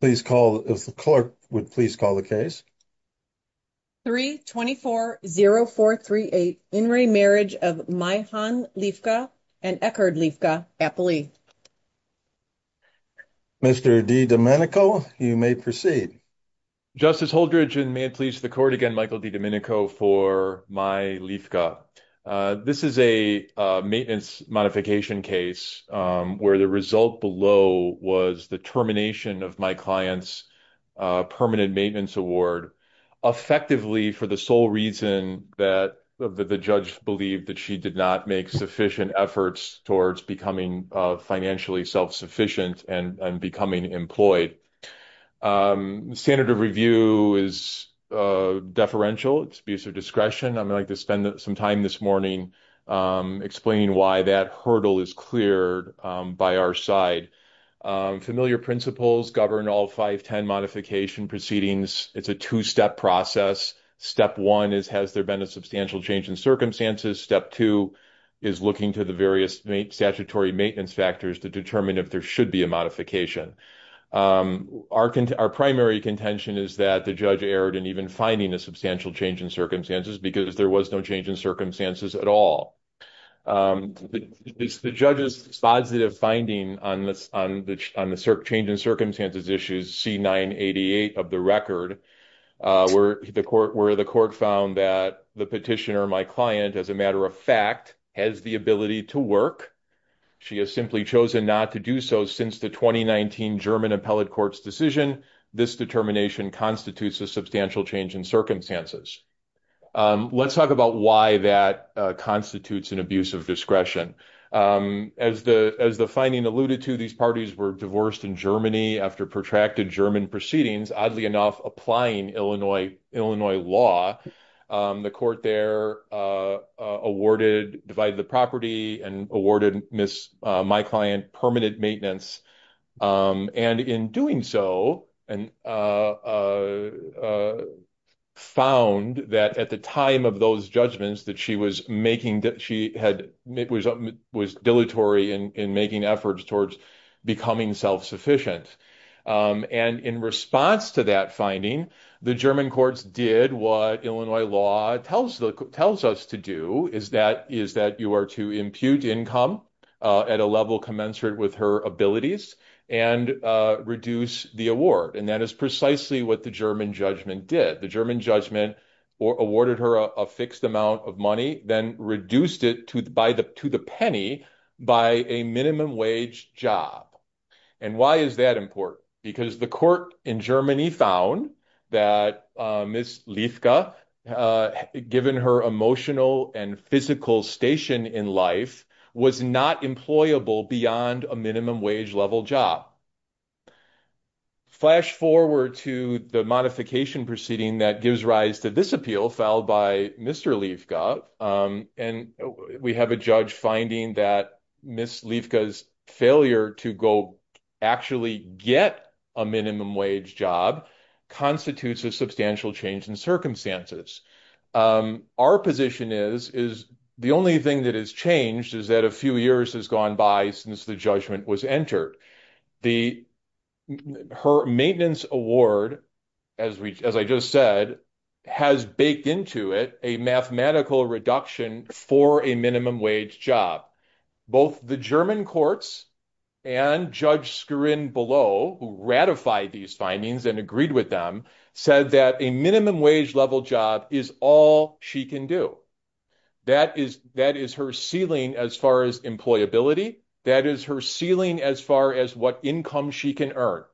Please call if the clerk would please call the case 324-0438 In re Marriage of Maihan Leifke and Eckhard Leifke, Appalee. Mr. DiDomenico, you may proceed. Justice Holdridge, and may it please the court again, Michael DiDomenico for Mai Leifke. This is a maintenance modification case where the result below was the termination of my client's permanent maintenance award, effectively for the sole reason that the judge believed that she did not make sufficient efforts towards becoming financially self-sufficient and becoming employed. The standard of review is deferential, it's abuse of discretion. I'd like to spend some time this morning explaining why that hurdle is cleared by our side. Familiar principles govern all 510 modification proceedings. It's a two-step process. Step one is, has there been a substantial change in circumstances? Step two is looking to the various statutory maintenance factors to determine if there should be a modification. Our primary contention is that the judge erred in even finding a substantial change in circumstances because there was no change in circumstances at all. The judge's positive finding on the change in circumstances issue is C-988 of the record, where the court found that the petitioner, my client, as a matter of fact, has the ability to work. She has simply chosen not to do so since the 2019 German Appellate Court's decision. This determination constitutes a substantial change in circumstances. Let's talk about why that constitutes an abuse of discretion. As the finding alluded to, these parties were divorced in Germany after protracted German proceedings, oddly enough, applying Illinois law. The court there awarded, divided the property and awarded my client permanent maintenance. In doing so, found that at the time of those judgments that she was dilatory in making efforts towards becoming self-sufficient. In response to that finding, the German courts did what Illinois law tells us to do, is that you are to impute income at a level commensurate with her abilities and reduce the award. That is precisely what the German judgment did. The German judgment awarded her a fixed amount of money, then reduced it to the penny by a minimum wage job. Why is that important? Because the court in Germany found that Ms. Liefke, given her emotional and physical station in life, was not employable beyond a minimum wage level job. Flash forward to the modification proceeding that gives rise to this appeal filed by Mr. Liefke, and we have a judge finding that Ms. Liefke's failure to go actually get a minimum wage job constitutes a substantial change in circumstances. Our position is the only thing that has changed is that a few years has gone by since the judgment was entered. Her maintenance award, as I just said, has baked into it a mathematical reduction for a minimum wage job. Both the German courts and Judge Skirin-Below, who ratified these findings and agreed with them, said that a minimum wage level job is all she can do. That is her ceiling as far as employability. That is her ceiling as far as what income she can earn.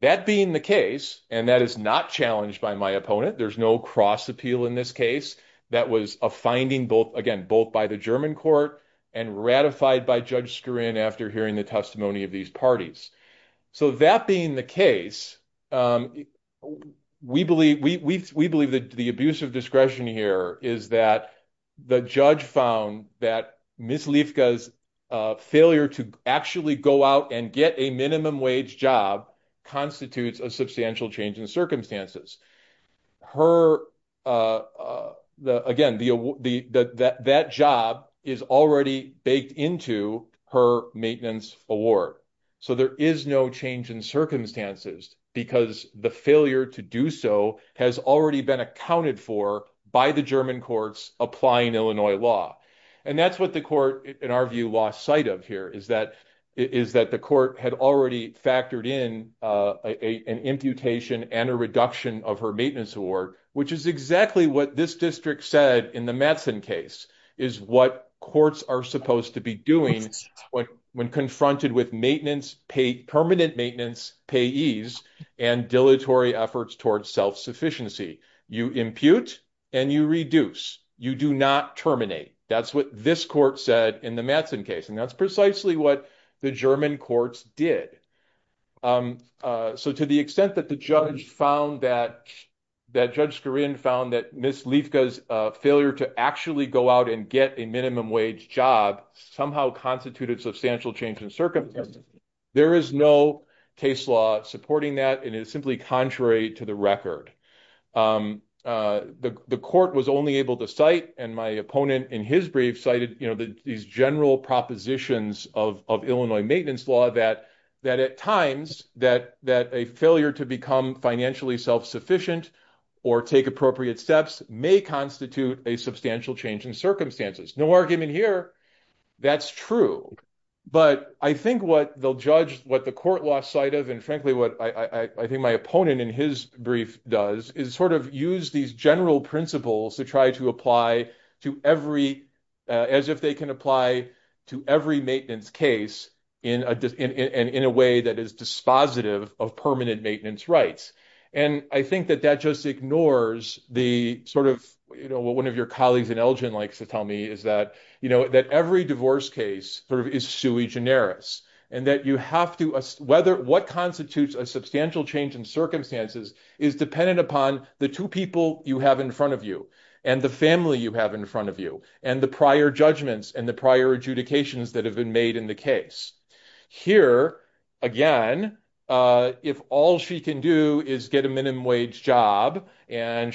That being the case, and that is not challenged by my opponent, there's no cross-appeal in this case. That was a finding, again, both by the German court and ratified by Judge Skirin-Below after hearing the testimony of these parties. That being the case, we believe that the abuse of discretion here is that the judge found that Ms. Liefke's failure to actually go out and get a minimum wage job constitutes a substantial change in circumstances. Again, that job is already baked into her maintenance award, so there is no change in circumstances because the failure to do so has already been accounted for by the German courts applying Illinois law. And that's what the court, in our view, lost sight of here, is that the court had already factored in an imputation and a reduction of her maintenance award, which is exactly what this district said in the Matson case, is what courts are supposed to be doing when confronted with permanent maintenance, payees, and dilatory efforts towards self-sufficiency. You impute and you reduce. You do not terminate. That's what this court said in the Matson case, and that's precisely what the German courts did. So, to the extent that Judge Skirin found that Ms. Liefke's failure to actually go out and get a minimum wage job somehow constituted substantial change in circumstances, there is no case law supporting that, and it is simply contrary to the record. The court was only able to cite, and my opponent in his brief cited, these general propositions of Illinois maintenance law that, at times, that a failure to become financially self-sufficient or take appropriate steps may constitute a substantial change in circumstances. No argument here. That's true. But I think what they'll judge what the court lost sight of, and frankly what I think my opponent in his brief does, is sort of use these general principles to try to apply as if they can apply to every maintenance case in a way that is dispositive of permanent maintenance rights. And I think that that just ignores what one of your colleagues in Elgin likes to tell me, is that every divorce case is sui generis, and what constitutes a substantial change in circumstances is dependent upon the two people you have in front of you, and the family you have in front of you, and the prior judgments and the prior adjudications that have been made in the case. Here, again, if all she can do is get a minimum wage job, and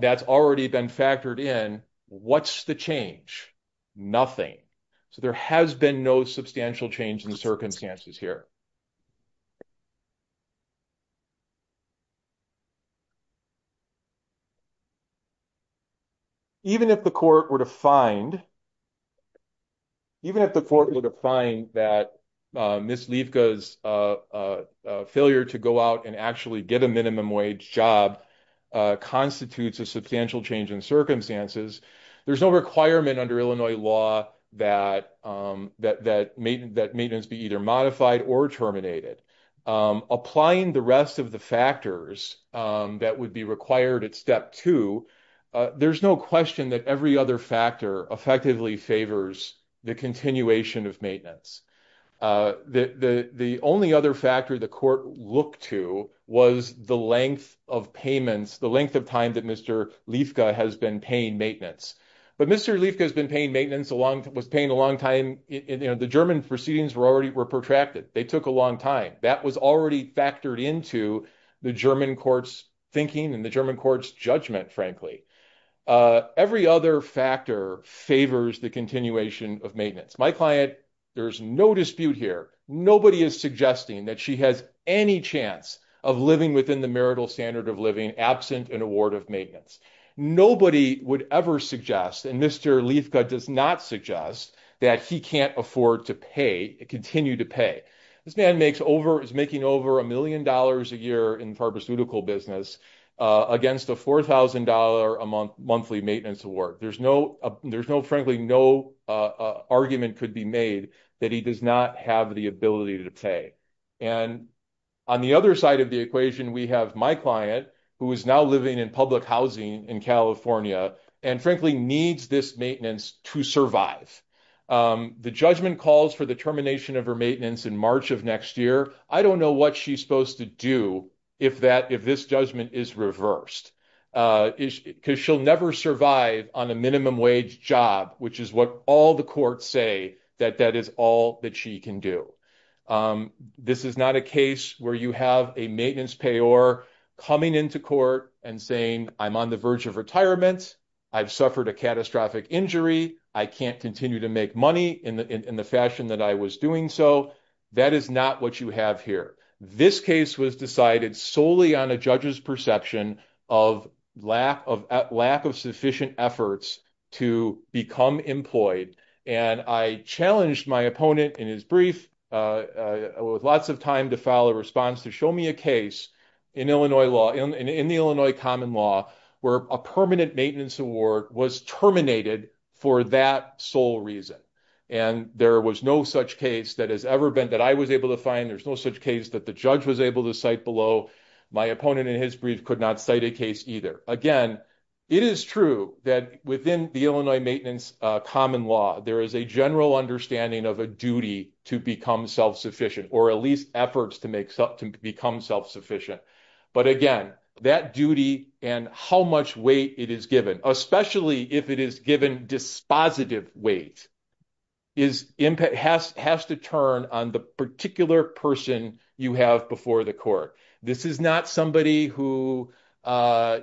that's already been factored in, what's the change? Nothing. So there has been no substantial change in circumstances here. Even if the court were to find, even if the court were to find that Ms. Liefka's failure to go out and actually get a minimum wage job constitutes a substantial change in circumstances, there's no requirement under Illinois law that maintenance be either modified or revoked. Applying the rest of the factors that would be required at step two, there's no question that every other factor effectively favors the continuation of maintenance. The only other factor the court looked to was the length of payments, the length of time that Mr. Liefka has been paying maintenance. But Mr. Liefka has been paying maintenance, was paying a long time. The German proceedings were protracted. They took a long time. That was already factored into the German court's thinking and the German court's judgment, frankly. Every other factor favors the continuation of maintenance. My client, there's no dispute here. Nobody is suggesting that she has any chance of living within the marital standard of living absent an award of maintenance. Nobody would ever suggest, and Mr. Liefka does not suggest, that he can't afford to pay, continue to pay. This man is making over a million dollars a year in pharmaceutical business against a $4,000 a month monthly maintenance award. There's no, frankly, no argument could be made that he does not have the ability to pay. And on the other side of the equation, we have my client, who is now living in public housing in California and, frankly, needs this maintenance to survive. The judgment calls for the termination of her maintenance in March of next year. I don't know what she's supposed to do if this judgment is reversed, because she'll never survive on a minimum wage job, which is what all the courts say that that is all that she can do. This is not a case where you have a maintenance payor coming into court and saying, I'm on the verge of retirement. I've suffered a catastrophic injury. I can't continue to make money in the fashion that I was doing. So that is not what you have here. This case was decided solely on a judge's perception of lack of sufficient efforts to become employed. And I challenged my opponent in his brief with lots of time to file a response to show me a case in Illinois law, in the Illinois common law, where a permanent maintenance award was terminated for that sole reason. And there was no such case that has ever been that I was able to find. There's no such case that the judge was able to cite below. My opponent in his brief could not cite a case either. Again, it is true that within the Illinois maintenance common law, there is a general understanding of a duty to become self-sufficient, or at least efforts to become self-sufficient. But again, that duty and how much weight it is given, especially if it is given dispositive weight, has to turn on the particular person you have before the court. This is not somebody who has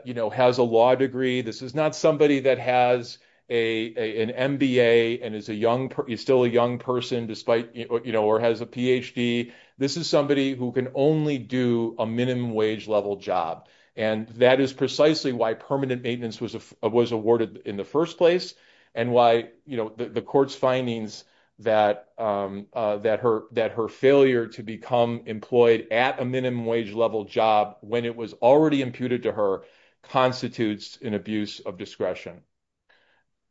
a law degree. This is not somebody that has an MBA and is still a young person or has a PhD. This is somebody who can only do a minimum wage level job. And that is precisely why permanent maintenance was awarded in the first place and why the court's findings that her failure to become employed at a minimum wage level job when it was already imputed to her constitutes an abuse of discretion.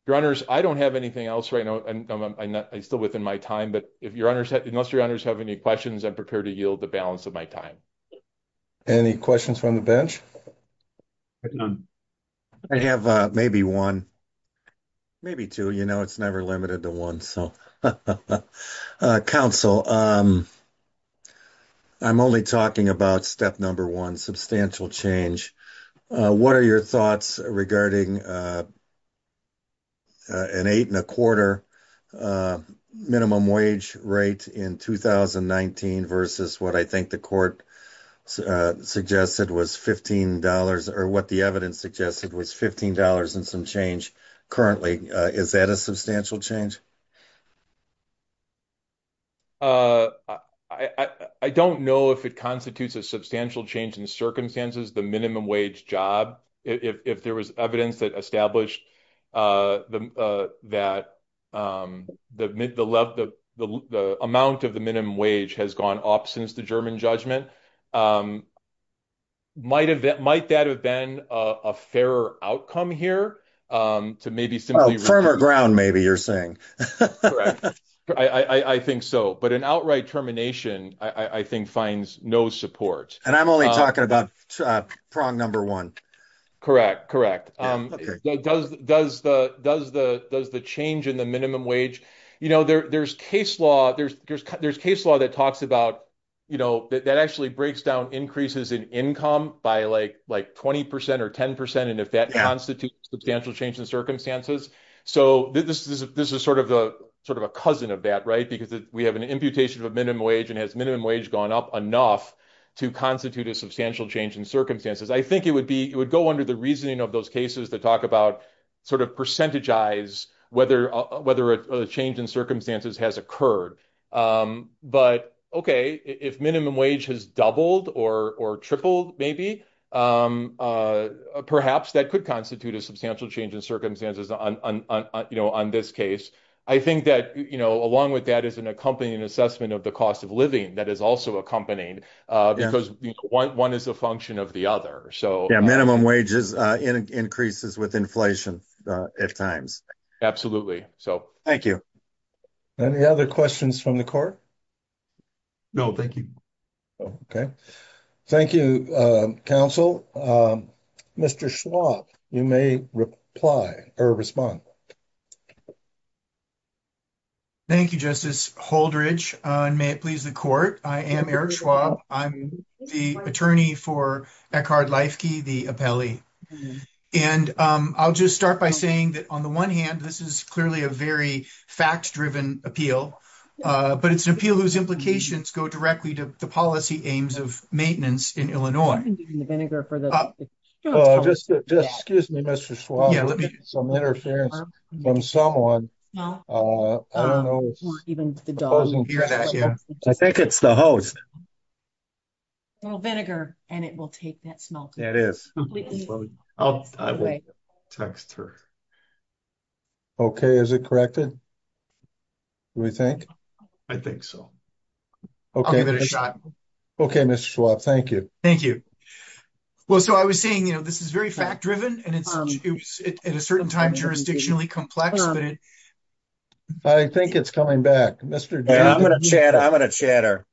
Your honors, I don't have anything else right now. I'm still within my time, but unless your honors have any questions, I'm prepared to yield the balance of my time. Any questions from the bench? I have maybe one, maybe two. You know, it's never limited to one. Counsel, I'm only talking about step number one, substantial change. What are your thoughts regarding an eight and a quarter minimum wage rate in 2019 versus what I think the court suggested was $15 or what the evidence suggested was $15 and some change currently? Is that a substantial change? I don't know if it constitutes a substantial change in circumstances, the minimum wage job, if there was evidence that established that the amount of the minimum wage has gone up since the German judgment. Might that have been a fairer outcome here to maybe some firmer ground, maybe you're saying. I think so. But an outright termination, I think, finds no support. And I'm only talking about prong number one. Correct, correct. Does the change in the minimum wage, you know, there's case law that talks about, you know, that actually breaks down increases in income by like 20% or 10%. And if that constitutes substantial change in circumstances, so this is sort of a cousin of that, right? Because we have an imputation of a minimum wage and has minimum wage gone up enough to constitute a substantial change in circumstances, I think it would be, it would go under the reasoning of those cases to talk about sort of percentage eyes, whether a change in circumstances has occurred. But, okay, if minimum wage has doubled or tripled, maybe perhaps that could constitute a substantial change in circumstances on this case. I think that, you know, along with that is an accompanying assessment of the cost of living that is also accompanied because one is a function of the other. Minimum wages increases with inflation at times. Absolutely. So, thank you. Any other questions from the court? No, thank you. Okay. Thank you, counsel. Mr. Schwab, you may reply or respond. Thank you Justice Holdridge, and may it please the court. I am Eric Schwab. I'm the attorney for Eckhard Leifke, the appellee. And I'll just start by saying that on the one hand, this is clearly a very fact driven appeal. But it's an appeal whose implications go directly to the policy aims of maintenance in Illinois. Excuse me, Mr. Schwab. Let me get some interference from someone. I don't know. I think it's the host. A little vinegar, and it will take that smell. It is. I'll text her. Okay, is it corrected? Do we think? I think so. Okay. Okay, Mr. Schwab. Thank you. Thank you. Well, so I was saying, you know, this is very fact driven and it's at a certain time, jurisdictionally complex. I think it's coming back, Mr. I'm going to chat. I'm going to chatter.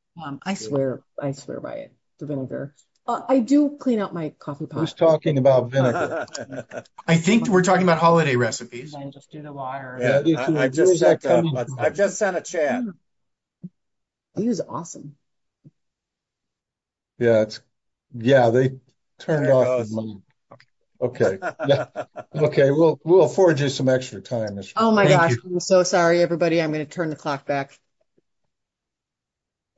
I swear, I swear by it. The vinegar. I do clean out my coffee pot. I was talking about vinegar. I think we're talking about holiday recipes. I just sent a chat. He was awesome. Yeah, it's. Yeah, they turned off. Okay, okay. We'll, we'll afford you some extra time. Oh, my gosh. I'm so sorry. Everybody. I'm going to turn the clock back.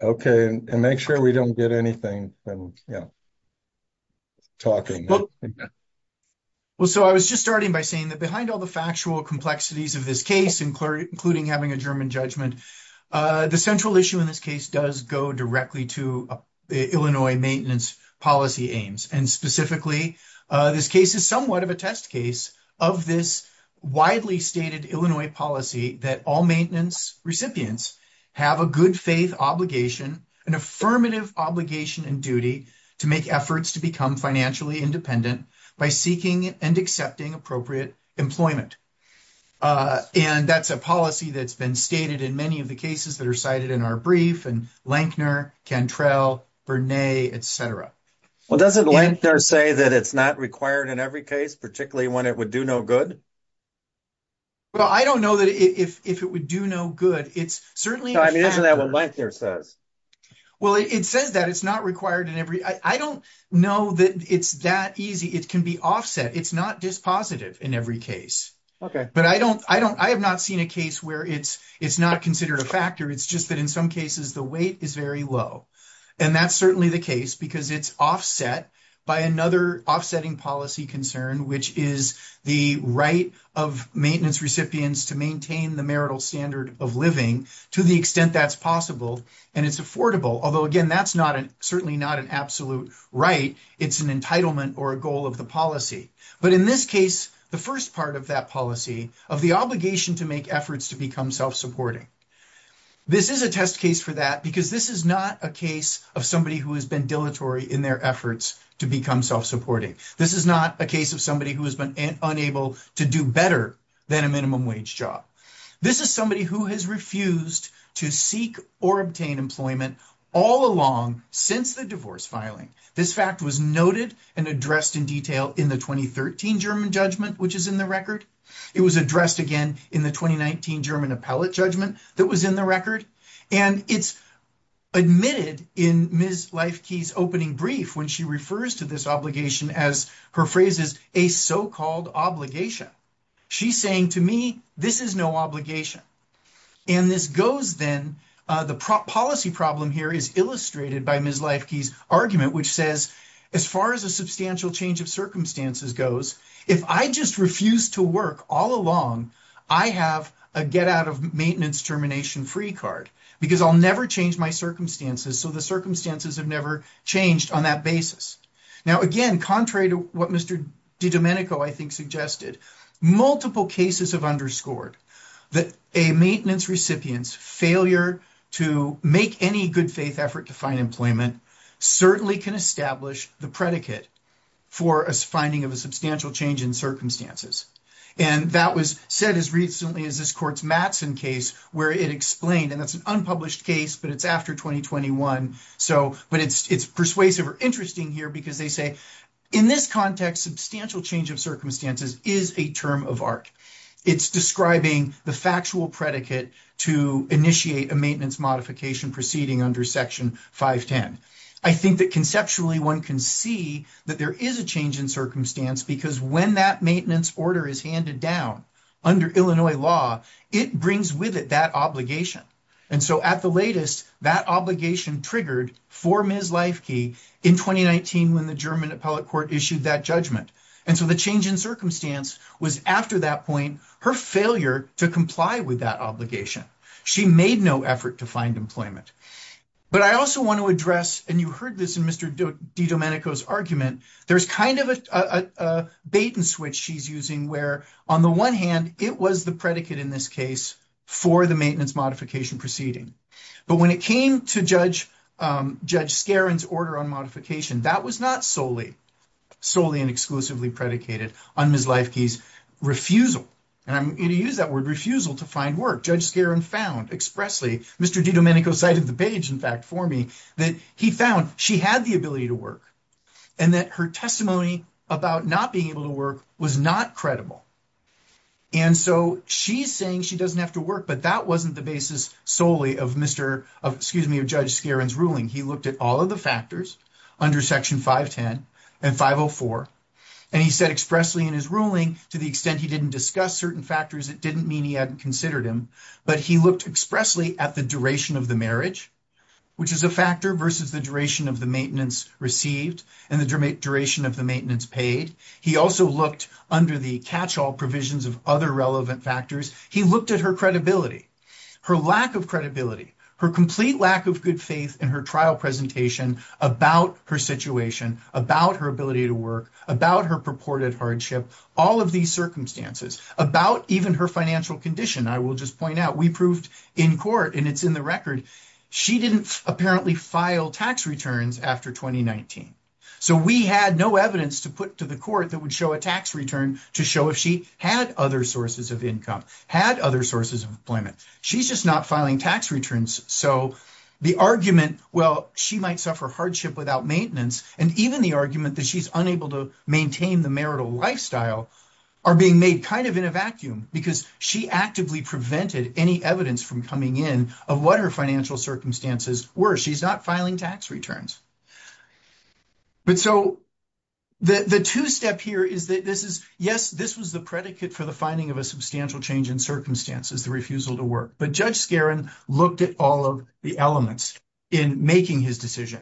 Okay, and make sure we don't get anything. Talking. Well, so I was just starting by saying that behind all the factual complexities of this case, including having a German judgment, the central issue in this case does go directly to Illinois maintenance policy aims. And specifically, this case is somewhat of a test case of this widely stated Illinois policy that all maintenance recipients have a good faith obligation, an affirmative obligation and duty to make efforts to become financially independent by seeking and accepting appropriate employment. And that's a policy that's been stated in many of the cases that are cited in our brief and Lankner can trail. Well, doesn't Lankner say that it's not required in every case, particularly when it would do no good. Well, I don't know that if it would do no good. It's certainly isn't that what Lankner says. Well, it says that it's not required in every I don't know that it's that easy. It can be offset. It's not dispositive in every case. Okay, but I don't I don't I have not seen a case where it's it's not considered a factor. It's just that in some cases, the weight is very low. And that's certainly the case, because it's offset by another offsetting policy concern, which is the right of maintenance recipients to maintain the marital standard of living to the extent that's possible. And it's affordable. Although again, that's not certainly not an absolute right. It's an entitlement or a goal of the policy. But in this case, the first part of that policy of the obligation to make efforts to become self-supporting. This is a test case for that, because this is not a case of somebody who has been dilatory in their efforts to become self-supporting. This is not a case of somebody who has been unable to do better than a minimum wage job. This is somebody who has refused to seek or obtain employment all along since the divorce filing. This fact was noted and addressed in detail in the 2013 German judgment, which is in the record. It was addressed again in the 2019 German appellate judgment that was in the record. And it's admitted in Ms. Leifke's opening brief when she refers to this obligation as her phrase is a so-called obligation. She's saying to me, this is no obligation. And this goes then, the policy problem here is illustrated by Ms. Leifke's argument, which says, as far as a substantial change of circumstances goes, if I just refuse to work all along, I have a get out of maintenance termination free card because I'll never change my circumstances. So the circumstances have never changed on that basis. Now, again, contrary to what Mr. DiDomenico, I think, suggested, multiple cases have underscored that a maintenance recipient's failure to make any good faith effort to find employment certainly can establish the predicate for a finding of a substantial change in circumstances. And that was said as recently as this court's Mattson case where it explained, and that's an unpublished case, but it's after 2021. But it's persuasive or interesting here because they say, in this context, substantial change of circumstances is a term of art. It's describing the factual predicate to initiate a maintenance modification proceeding under Section 510. I think that conceptually one can see that there is a change in circumstance because when that maintenance order is handed down under Illinois law, it brings with it that obligation. And so at the latest, that obligation triggered for Ms. Leifke in 2019 when the German appellate court issued that judgment. And so the change in circumstance was after that point, her failure to comply with that obligation. She made no effort to find employment. But I also want to address, and you heard this in Mr. DiDomenico's argument, there's kind of a bait and switch she's using, where on the one hand, it was the predicate in this case for the maintenance modification proceeding. But when it came to Judge Skerrin's order on modification, that was not solely and exclusively predicated on Ms. Leifke's refusal. And I'm going to use that word refusal to find work. Judge Skerrin found expressly, Mr. DiDomenico cited the page, in fact, for me, that he found she had the ability to work. And that her testimony about not being able to work was not credible. And so she's saying she doesn't have to work. But that wasn't the basis solely of Judge Skerrin's ruling. He looked at all of the factors under Section 510 and 504. And he said expressly in his ruling, to the extent he didn't discuss certain factors, it didn't mean he hadn't considered him. But he looked expressly at the duration of the marriage, which is a factor versus the duration of the maintenance received and the duration of the maintenance paid. He also looked under the catch-all provisions of other relevant factors. He looked at her credibility, her lack of credibility, her complete lack of good faith in her trial presentation about her situation, about her ability to work, about her purported hardship, all of these circumstances, about even her financial condition. I will just point out, we proved in court, and it's in the record, she didn't apparently file tax returns after 2019. So we had no evidence to put to the court that would show a tax return to show if she had other sources of income, had other sources of employment. She's just not filing tax returns. So the argument, well, she might suffer hardship without maintenance, and even the argument that she's unable to maintain the marital lifestyle, are being made kind of in a vacuum because she actively prevented any evidence from coming in of what her financial circumstances were. She's not filing tax returns. But so the two-step here is that this is, yes, this was the predicate for the finding of a substantial change in circumstances, the refusal to work. But Judge Skaran looked at all of the elements in making his decision.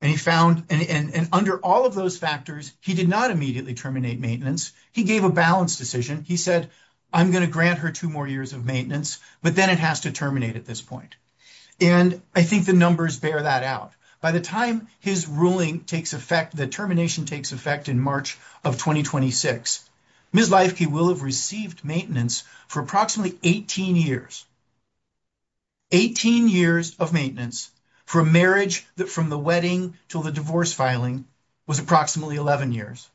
And he found, and under all of those factors, he did not immediately terminate maintenance. He gave a balanced decision. He said, I'm going to grant her two more years of maintenance, but then it has to terminate at this point. And I think the numbers bear that out. By the time his ruling takes effect, the termination takes effect in March of 2026, Ms. Leifke will have received maintenance for approximately 18 years. 18 years of maintenance for a marriage that from the wedding till the divorce filing was approximately 11 years.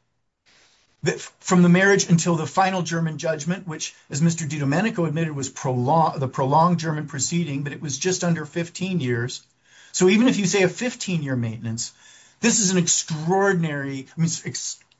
From the marriage until the final German judgment, which, as Mr. DiDomenico admitted, was the prolonged German proceeding, but it was just under 15 years. So even if you say a 15-year maintenance, this is an extraordinary,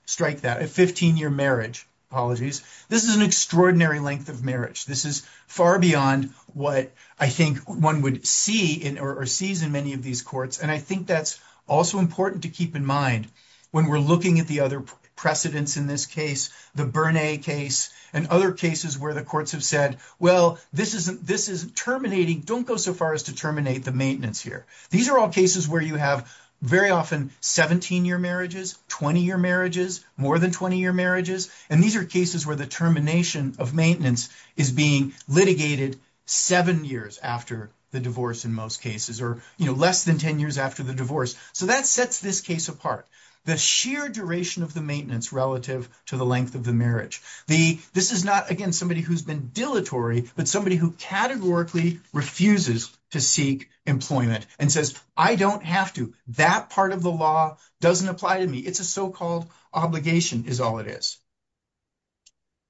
strike that, a 15-year marriage. Apologies. This is an extraordinary length of marriage. This is far beyond what I think one would see or sees in many of these courts. And I think that's also important to keep in mind when we're looking at the other precedents in this case, the Bernay case and other cases where the courts have said, well, this isn't terminating. Don't go so far as to terminate the maintenance here. These are all cases where you have very often 17-year marriages, 20-year marriages, more than 20-year marriages. And these are cases where the termination of maintenance is being litigated seven years after the divorce in most cases or less than 10 years after the divorce. So that sets this case apart. The sheer duration of the maintenance relative to the length of the marriage. This is not, again, somebody who's been dilatory, but somebody who categorically refuses to seek employment and says, I don't have to. That part of the law doesn't apply to me. It's a so-called obligation is all it is.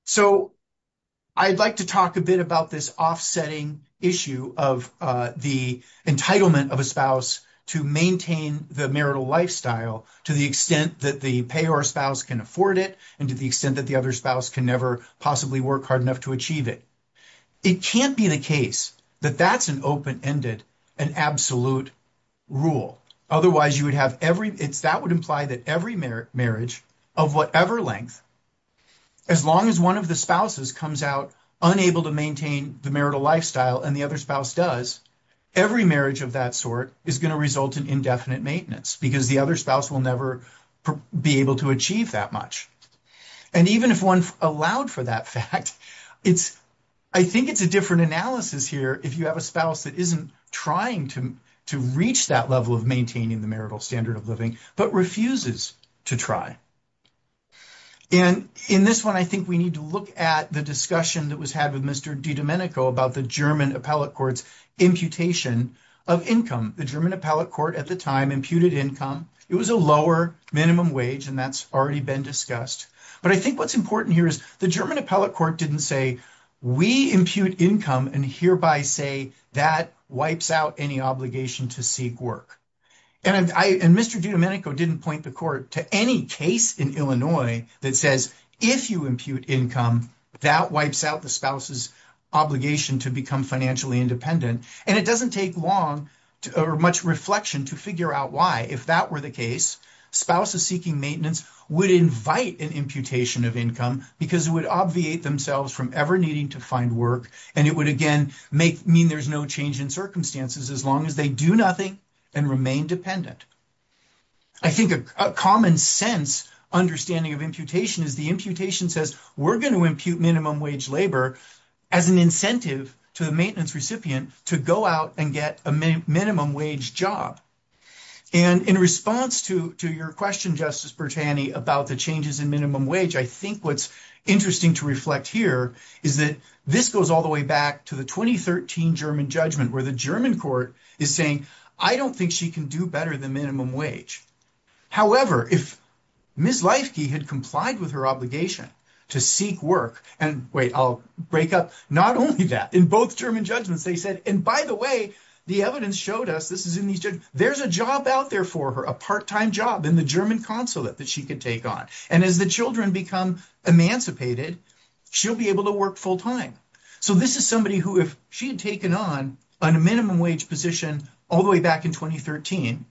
So I'd like to talk a bit about this offsetting issue of the entitlement of a spouse to maintain the marital lifestyle to the extent that the payor spouse can afford it and to the extent that the other spouse can never possibly work hard enough to achieve it. It can't be the case that that's an open-ended, an absolute rule. That would imply that every marriage of whatever length, as long as one of the spouses comes out unable to maintain the marital lifestyle and the other spouse does, every marriage of that sort is going to result in indefinite maintenance because the other spouse will never be able to achieve that much. And even if one allowed for that fact, I think it's a different analysis here if you have a spouse that isn't trying to reach that level of maintaining the marital standard of living, but refuses to try. And in this one, I think we need to look at the discussion that was had with Mr. DiDomenico about the German appellate court's imputation of income. The German appellate court at the time imputed income. It was a lower minimum wage and that's already been discussed. But I think what's important here is the German appellate court didn't say, we impute income and hereby say that wipes out any obligation to seek work. And Mr. DiDomenico didn't point the court to any case in Illinois that says if you impute income, that wipes out the spouse's obligation to become financially independent. And it doesn't take long or much reflection to figure out why. If that were the case, spouses seeking maintenance would invite an imputation of income because it would obviate themselves from ever needing to find work. And it would again mean there's no change in circumstances as long as they do nothing and remain dependent. I think a common sense understanding of imputation is the imputation says we're going to impute minimum wage labor as an incentive to the maintenance recipient to go out and get a minimum wage job. And in response to your question, Justice Bertani, about the changes in minimum wage, I think what's interesting to reflect here is that this goes all the way back to the 2013 German judgment where the German court is saying, I don't think she can do better than minimum wage. However, if Ms. Leifke had complied with her obligation to seek work, and wait, I'll break up, not only that, in both German judgments, they said, and by the way, the evidence showed us this is in these judgments, there's a job out there for her, a part-time job in the German consulate that she could take on. And as the children become emancipated, she'll be able to work full time. So this is somebody who if she had taken on a minimum wage position all the way back in 2013,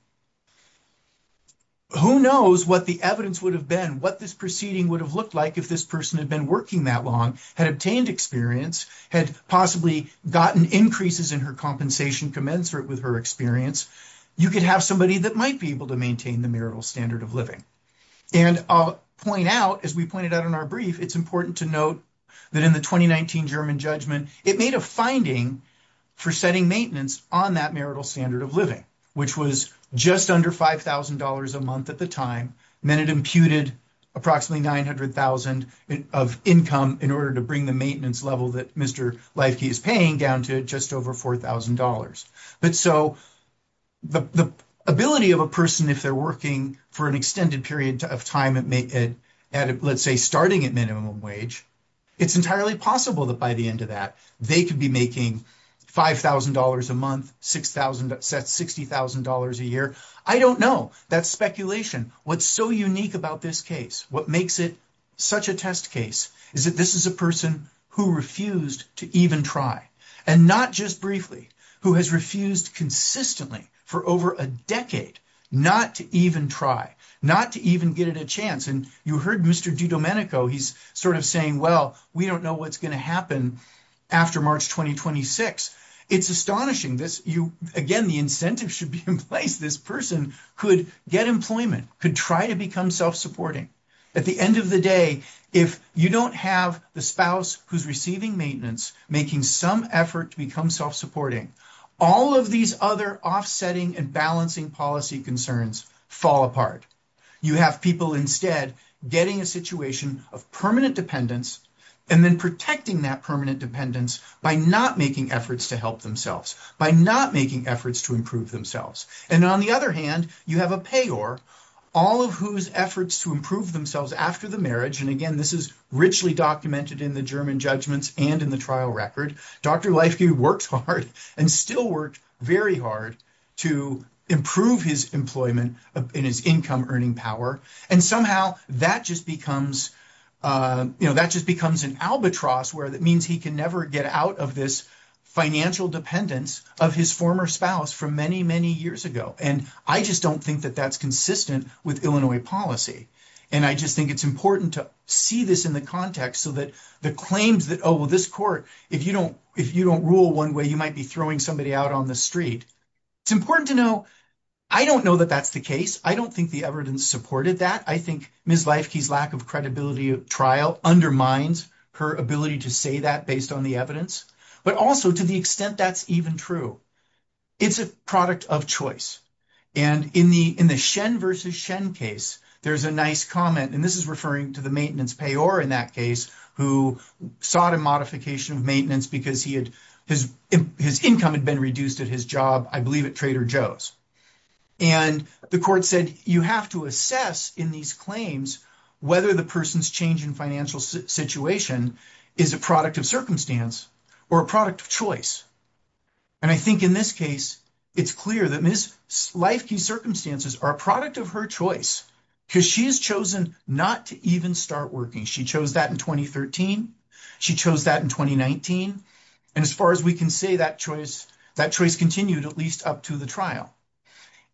who knows what the evidence would have been, what this proceeding would have looked like if this person had been working that long, had obtained experience, had possibly gotten increases in her compensation commensurate with her experience. You could have somebody that might be able to maintain the marital standard of living. And I'll point out, as we pointed out in our brief, it's important to note that in the 2019 German judgment, it made a finding for setting maintenance on that marital standard of living, which was just under $5,000 a month at the time, and then it imputed approximately $900,000 of income in order to bring the maintenance level that Mr. Leifke is paying down to just over $4,000. But so the ability of a person if they're working for an extended period of time at, let's say, starting at minimum wage, it's entirely possible that by the end of that, they could be making $5,000 a month, $60,000 a year. I don't know. That's speculation. What's so unique about this case, what makes it such a test case, is that this is a person who refused to even try, and not just briefly, who has refused consistently for over a decade not to even try, not to even get it a chance. And you heard Mr. DiDomenico, he's sort of saying, well, we don't know what's going to happen after March 2026. It's astonishing. Again, the incentive should be in place. This person could get employment, could try to become self-supporting. At the end of the day, if you don't have the spouse who's receiving maintenance making some effort to become self-supporting, all of these other offsetting and balancing policy concerns fall apart. You have people instead getting a situation of permanent dependence, and then protecting that permanent dependence by not making efforts to help themselves, by not making efforts to improve themselves. And on the other hand, you have a payor, all of whose efforts to improve themselves after the marriage, and again, this is richly documented in the German judgments and in the trial record, Dr. Leifke works hard and still worked very hard to improve his employment and his income earning power. And somehow that just becomes an albatross where that means he can never get out of this financial dependence of his former spouse from many, many years ago. And I just don't think that that's consistent with Illinois policy. And I just think it's important to see this in the context so that the claims that, oh, well, this court, if you don't rule one way, you might be throwing somebody out on the street. It's important to know. I don't know that that's the case. I don't think the evidence supported that. I think Ms. Leifke's lack of credibility of trial undermines her ability to say that based on the evidence. But also to the extent that's even true. It's a product of choice. And in the Shen versus Shen case, there's a nice comment, and this is referring to the maintenance payor in that case, who sought a modification of maintenance because his income had been reduced at his job, I believe at Trader Joe's. And the court said, you have to assess in these claims whether the person's change in financial situation is a product of circumstance or a product of choice. And I think in this case, it's clear that Ms. Leifke's circumstances are a product of her choice because she has chosen not to even start working. She chose that in 2013. She chose that in 2019. And as far as we can say, that choice continued at least up to the trial.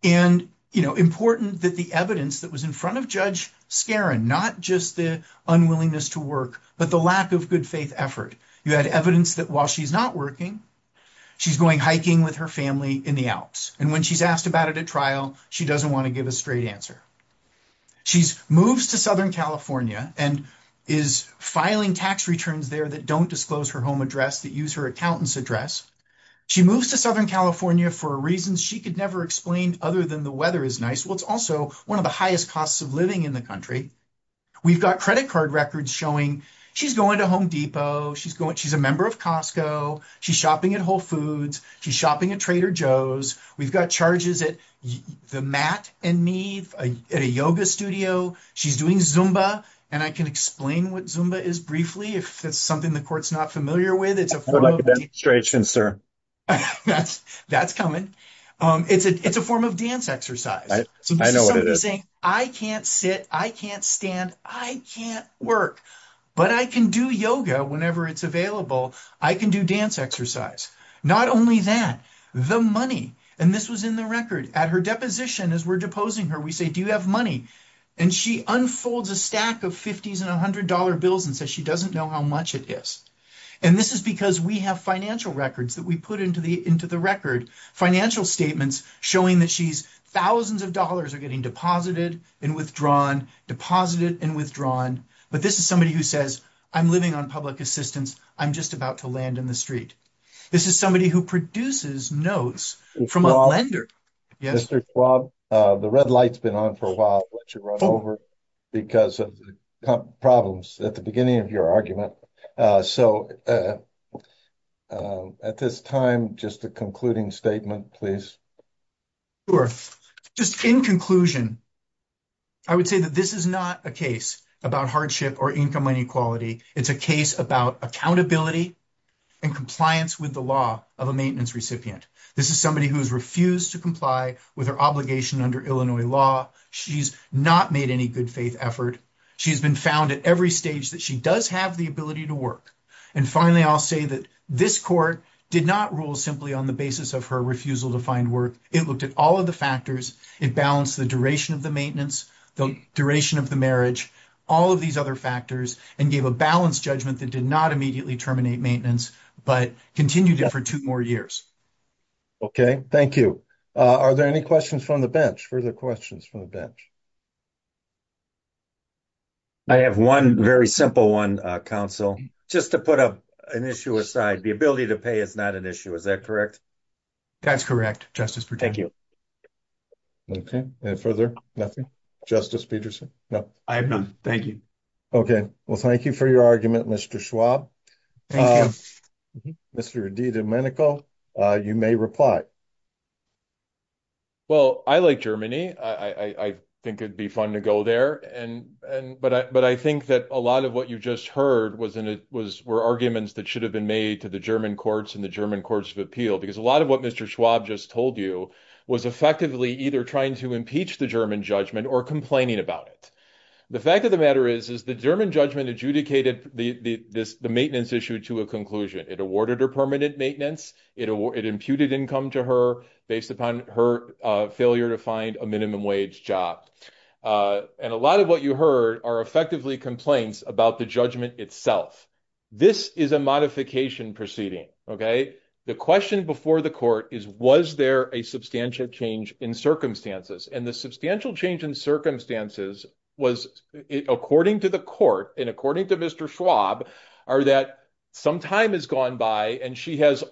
And, you know, important that the evidence that was in front of Judge Skaran, not just the unwillingness to work, but the lack of good faith effort. You had evidence that while she's not working, she's going hiking with her family in the Alps. And when she's asked about it at trial, she doesn't want to give a straight answer. She moves to Southern California and is filing tax returns there that don't disclose her home address, that use her accountant's address. She moves to Southern California for reasons she could never explain other than the weather is nice. Well, it's also one of the highest costs of living in the country. We've got credit card records showing she's going to Home Depot. She's a member of Costco. She's shopping at Whole Foods. She's shopping at Trader Joe's. We've got charges at the mat and me at a yoga studio. She's doing Zumba. And I can explain what Zumba is briefly if it's something the court's not familiar with. That's coming. It's a form of dance exercise. I can't sit. I can't stand. I can't work, but I can do yoga whenever it's available. I can do dance exercise. Not only that, the money, and this was in the record at her deposition as we're deposing her, we say, do you have money? And she unfolds a stack of 50s and $100 bills and says she doesn't know how much it is. And this is because we have financial records that we put into the into the record financial statements showing that she's thousands of dollars are getting deposited and withdrawn, deposited and withdrawn. But this is somebody who says, I'm living on public assistance. I'm just about to land in the street. This is somebody who produces notes from a lender. Mr. Schwab, the red light's been on for a while because of problems at the beginning of your argument. So, at this time, just a concluding statement, please. Just in conclusion, I would say that this is not a case about hardship or income inequality. It's a case about accountability and compliance with the law of a maintenance recipient. This is somebody who's refused to comply with her obligation under Illinois law. She's not made any good faith effort. She's been found at every stage that she does have the ability to work. And finally, I'll say that this court did not rule simply on the basis of her refusal to find work. It looked at all of the factors. It balanced the duration of the maintenance, the duration of the marriage, all of these other factors, and gave a balanced judgment that did not immediately terminate maintenance, but continued for 2 more years. Okay, thank you. Are there any questions from the bench? Further questions from the bench? I have 1, very simple 1 council just to put up an issue aside. The ability to pay is not an issue. Is that correct? That's correct. Justice. Thank you. Okay, and further nothing justice Peterson. No, I have none. Thank you. Okay, well, thank you for your argument. Mr. Schwab. Mr. D. Domenico, you may reply. Well, I like Germany. I think it'd be fun to go there. And but I, but I think that a lot of what you just heard wasn't it was were arguments that should have been made to the German courts and the German courts of appeal because a lot of what Mr. Schwab just told you was effectively either trying to impeach the German judgment or complaining about it. The fact of the matter is, is the German judgment adjudicated the maintenance issue to a conclusion. It awarded her permanent maintenance. It imputed income to her based upon her failure to find a minimum wage job. And a lot of what you heard are effectively complaints about the judgment itself. This is a modification proceeding. Okay. The question before the court is, was there a substantial change in circumstances and the substantial change in circumstances was according to the court. And according to Mr. Schwab are that some time has gone by and she has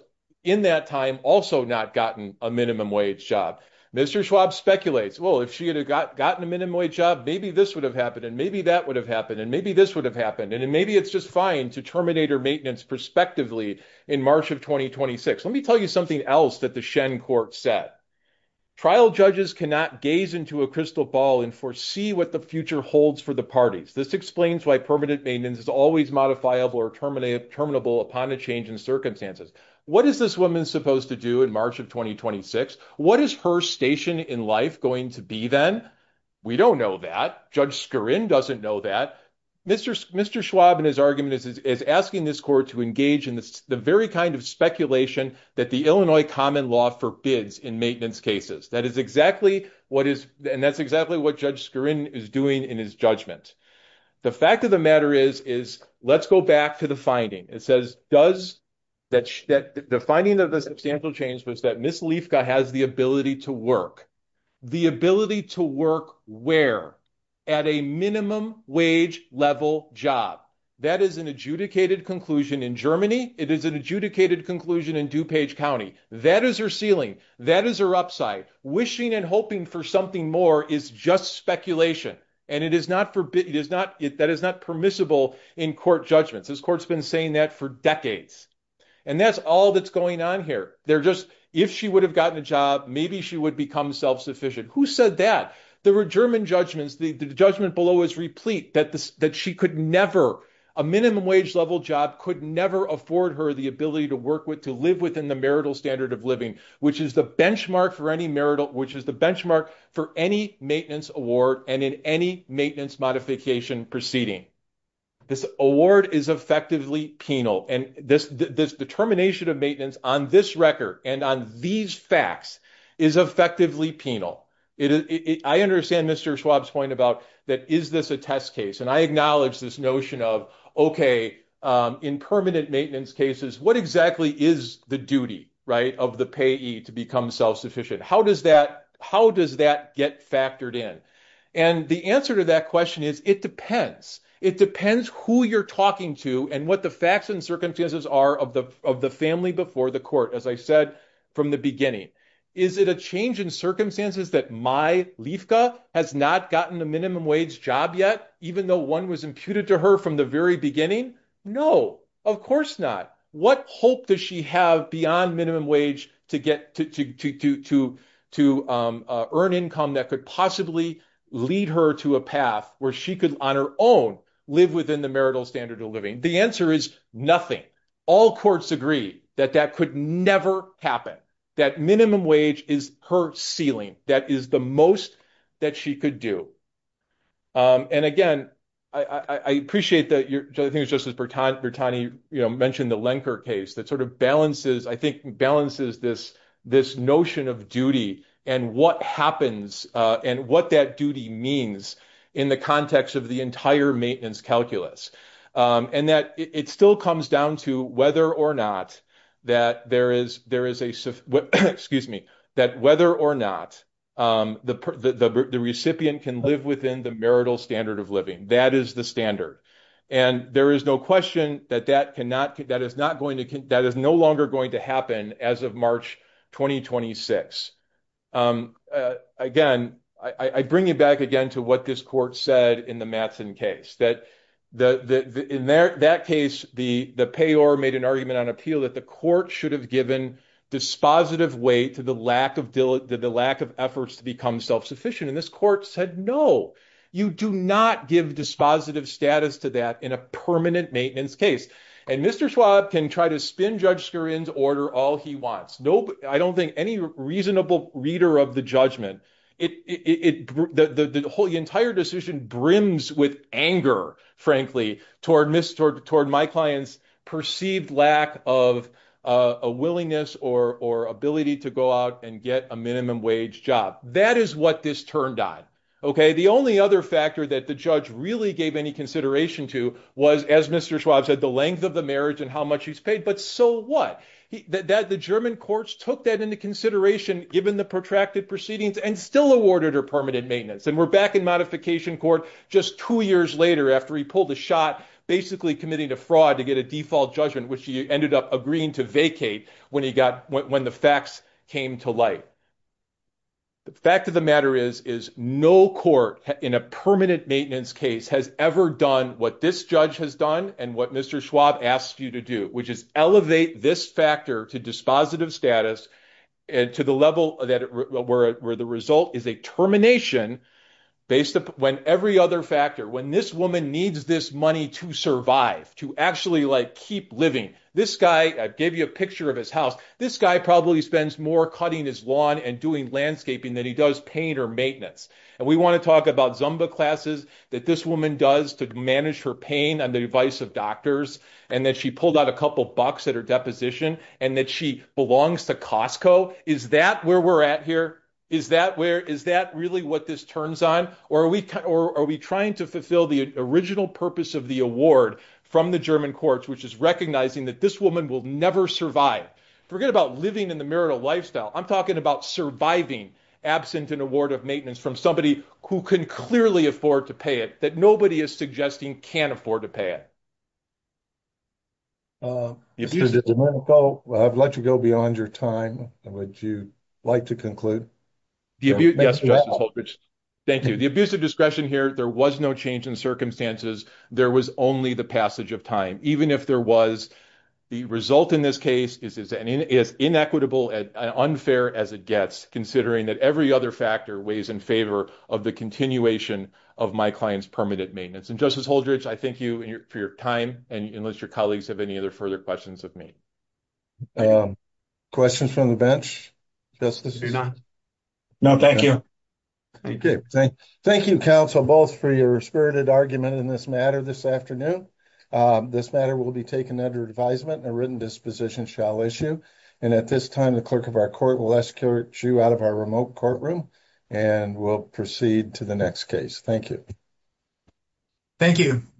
in that time also not gotten a minimum wage job. Mr. Schwab speculates. Well, if she had gotten a minimum wage job, maybe this would have happened. And maybe that would have happened. And maybe this would have happened. And maybe it's just fine to terminate her maintenance prospectively in March of 2026. Let me tell you something else that the Shen court said. Trial judges cannot gaze into a crystal ball and foresee what the future holds for the parties. This explains why permanent maintenance is always modifiable or terminate terminable upon a change in circumstances. What is this woman supposed to do in March of 2026? What is her station in life going to be then? We don't know that. Judge Skirin doesn't know that. Mr. Schwab in his argument is asking this court to engage in the very kind of speculation that the Illinois common law forbids in maintenance cases. That is exactly what is and that's exactly what Judge Skirin is doing in his judgment. The fact of the matter is, is let's go back to the finding. It says does that the finding of the substantial change was that Miss Lefka has the ability to work. The ability to work where at a minimum wage level job that is an adjudicated conclusion in Germany. It is an adjudicated conclusion in DuPage County. That is her ceiling. That is her upside wishing and hoping for something more is just speculation. And it is not permissible in court judgments. This court's been saying that for decades and that's all that's going on here. They're just if she would have gotten a job, maybe she would become self-sufficient. Who said that? There were German judgments. The judgment below is replete that she could never a minimum wage level job could never afford her the ability to work with to live within the marital standard of living, which is the benchmark for any marital, which is the benchmark for any maintenance award. And in any maintenance modification proceeding, this award is effectively penal. And this determination of maintenance on this record and on these facts is effectively penal. I understand Mr. Schwab's point about that. Is this a test case? And I acknowledge this notion of, OK, in permanent maintenance cases, what exactly is the duty of the payee to become self-sufficient? How does that how does that get factored in? And the answer to that question is, it depends. It depends who you're talking to and what the facts and circumstances are of the of the family before the court. As I said from the beginning, is it a change in circumstances that my Liefke has not gotten a minimum wage job yet, even though one was imputed to her from the very beginning? No, of course not. What hope does she have beyond minimum wage to get to to to to to to earn income that could possibly lead her to a path where she could on her own live within the marital standard of living? The answer is nothing. All courts agree that that could never happen. That minimum wage is her ceiling. That is the most that she could do. And again, I appreciate that. Excuse me, that whether or not the recipient can live within the marital standard of living, that is the standard. And I think it's important to recognize that that is not the case. And there is no question that that cannot that is not going to that is no longer going to happen as of March 2026. Again, I bring you back again to what this court said in the Matson case that the in that case, the payor made an argument on appeal that the court should have given dispositive weight to the lack of the lack of efforts to become self-sufficient in this court said, no, you do not give dispositive status to that in a permanent maintenance case. And Mr. Schwab can try to spin Judge Scurin's order all he wants. No, I don't think any reasonable reader of the judgment. It the whole entire decision brims with anger, frankly, toward Mr. toward my clients perceived lack of a willingness or ability to go out and get a minimum wage job. That is what this turned on. Okay. The only other factor that the judge really gave any consideration to was, as Mr. Schwab said, the length of the marriage and how much he's paid. But so what? The fact of the matter is, is no court in a permanent maintenance case has ever done what this judge has done. And what Mr. Schwab asked you to do, which is elevate this firm to a minimum wage. This guy probably spends more cutting his lawn and doing landscaping than he does pain or maintenance. And we want to talk about Zumba classes that this woman does to manage her pain on the advice of doctors. And then she pulled out a couple bucks at her deposition. And that she belongs to Costco. Is that where we're at here? Is that where is that really what this turns on? Or are we or are we trying to fulfill the original purpose of the award from the German courts, which is recognizing that this woman will never survive? Forget about living in the marital lifestyle. I'm talking about surviving absent an award of maintenance from somebody who can clearly afford to pay it that nobody is suggesting can't afford to pay it. Well, I've let you go beyond your time. Would you like to conclude? Thank you. The abuse of discretion here, there was no change in circumstances. There was only the passage of time, even if there was the result in this case is as inequitable and unfair as it gets, considering that every other factor weighs in favor of the continuation of my client's permanent maintenance. And justice Holdridge, I thank you for your time. And unless your colleagues have any other further questions of me. Questions from the bench. No, thank you. Okay, thank you counsel both for your spirited argument in this matter this afternoon. This matter will be taken under advisement and a written disposition shall issue. And at this time, the clerk of our court will ask you out of our remote courtroom and we'll proceed to the next case. Thank you. Thank you.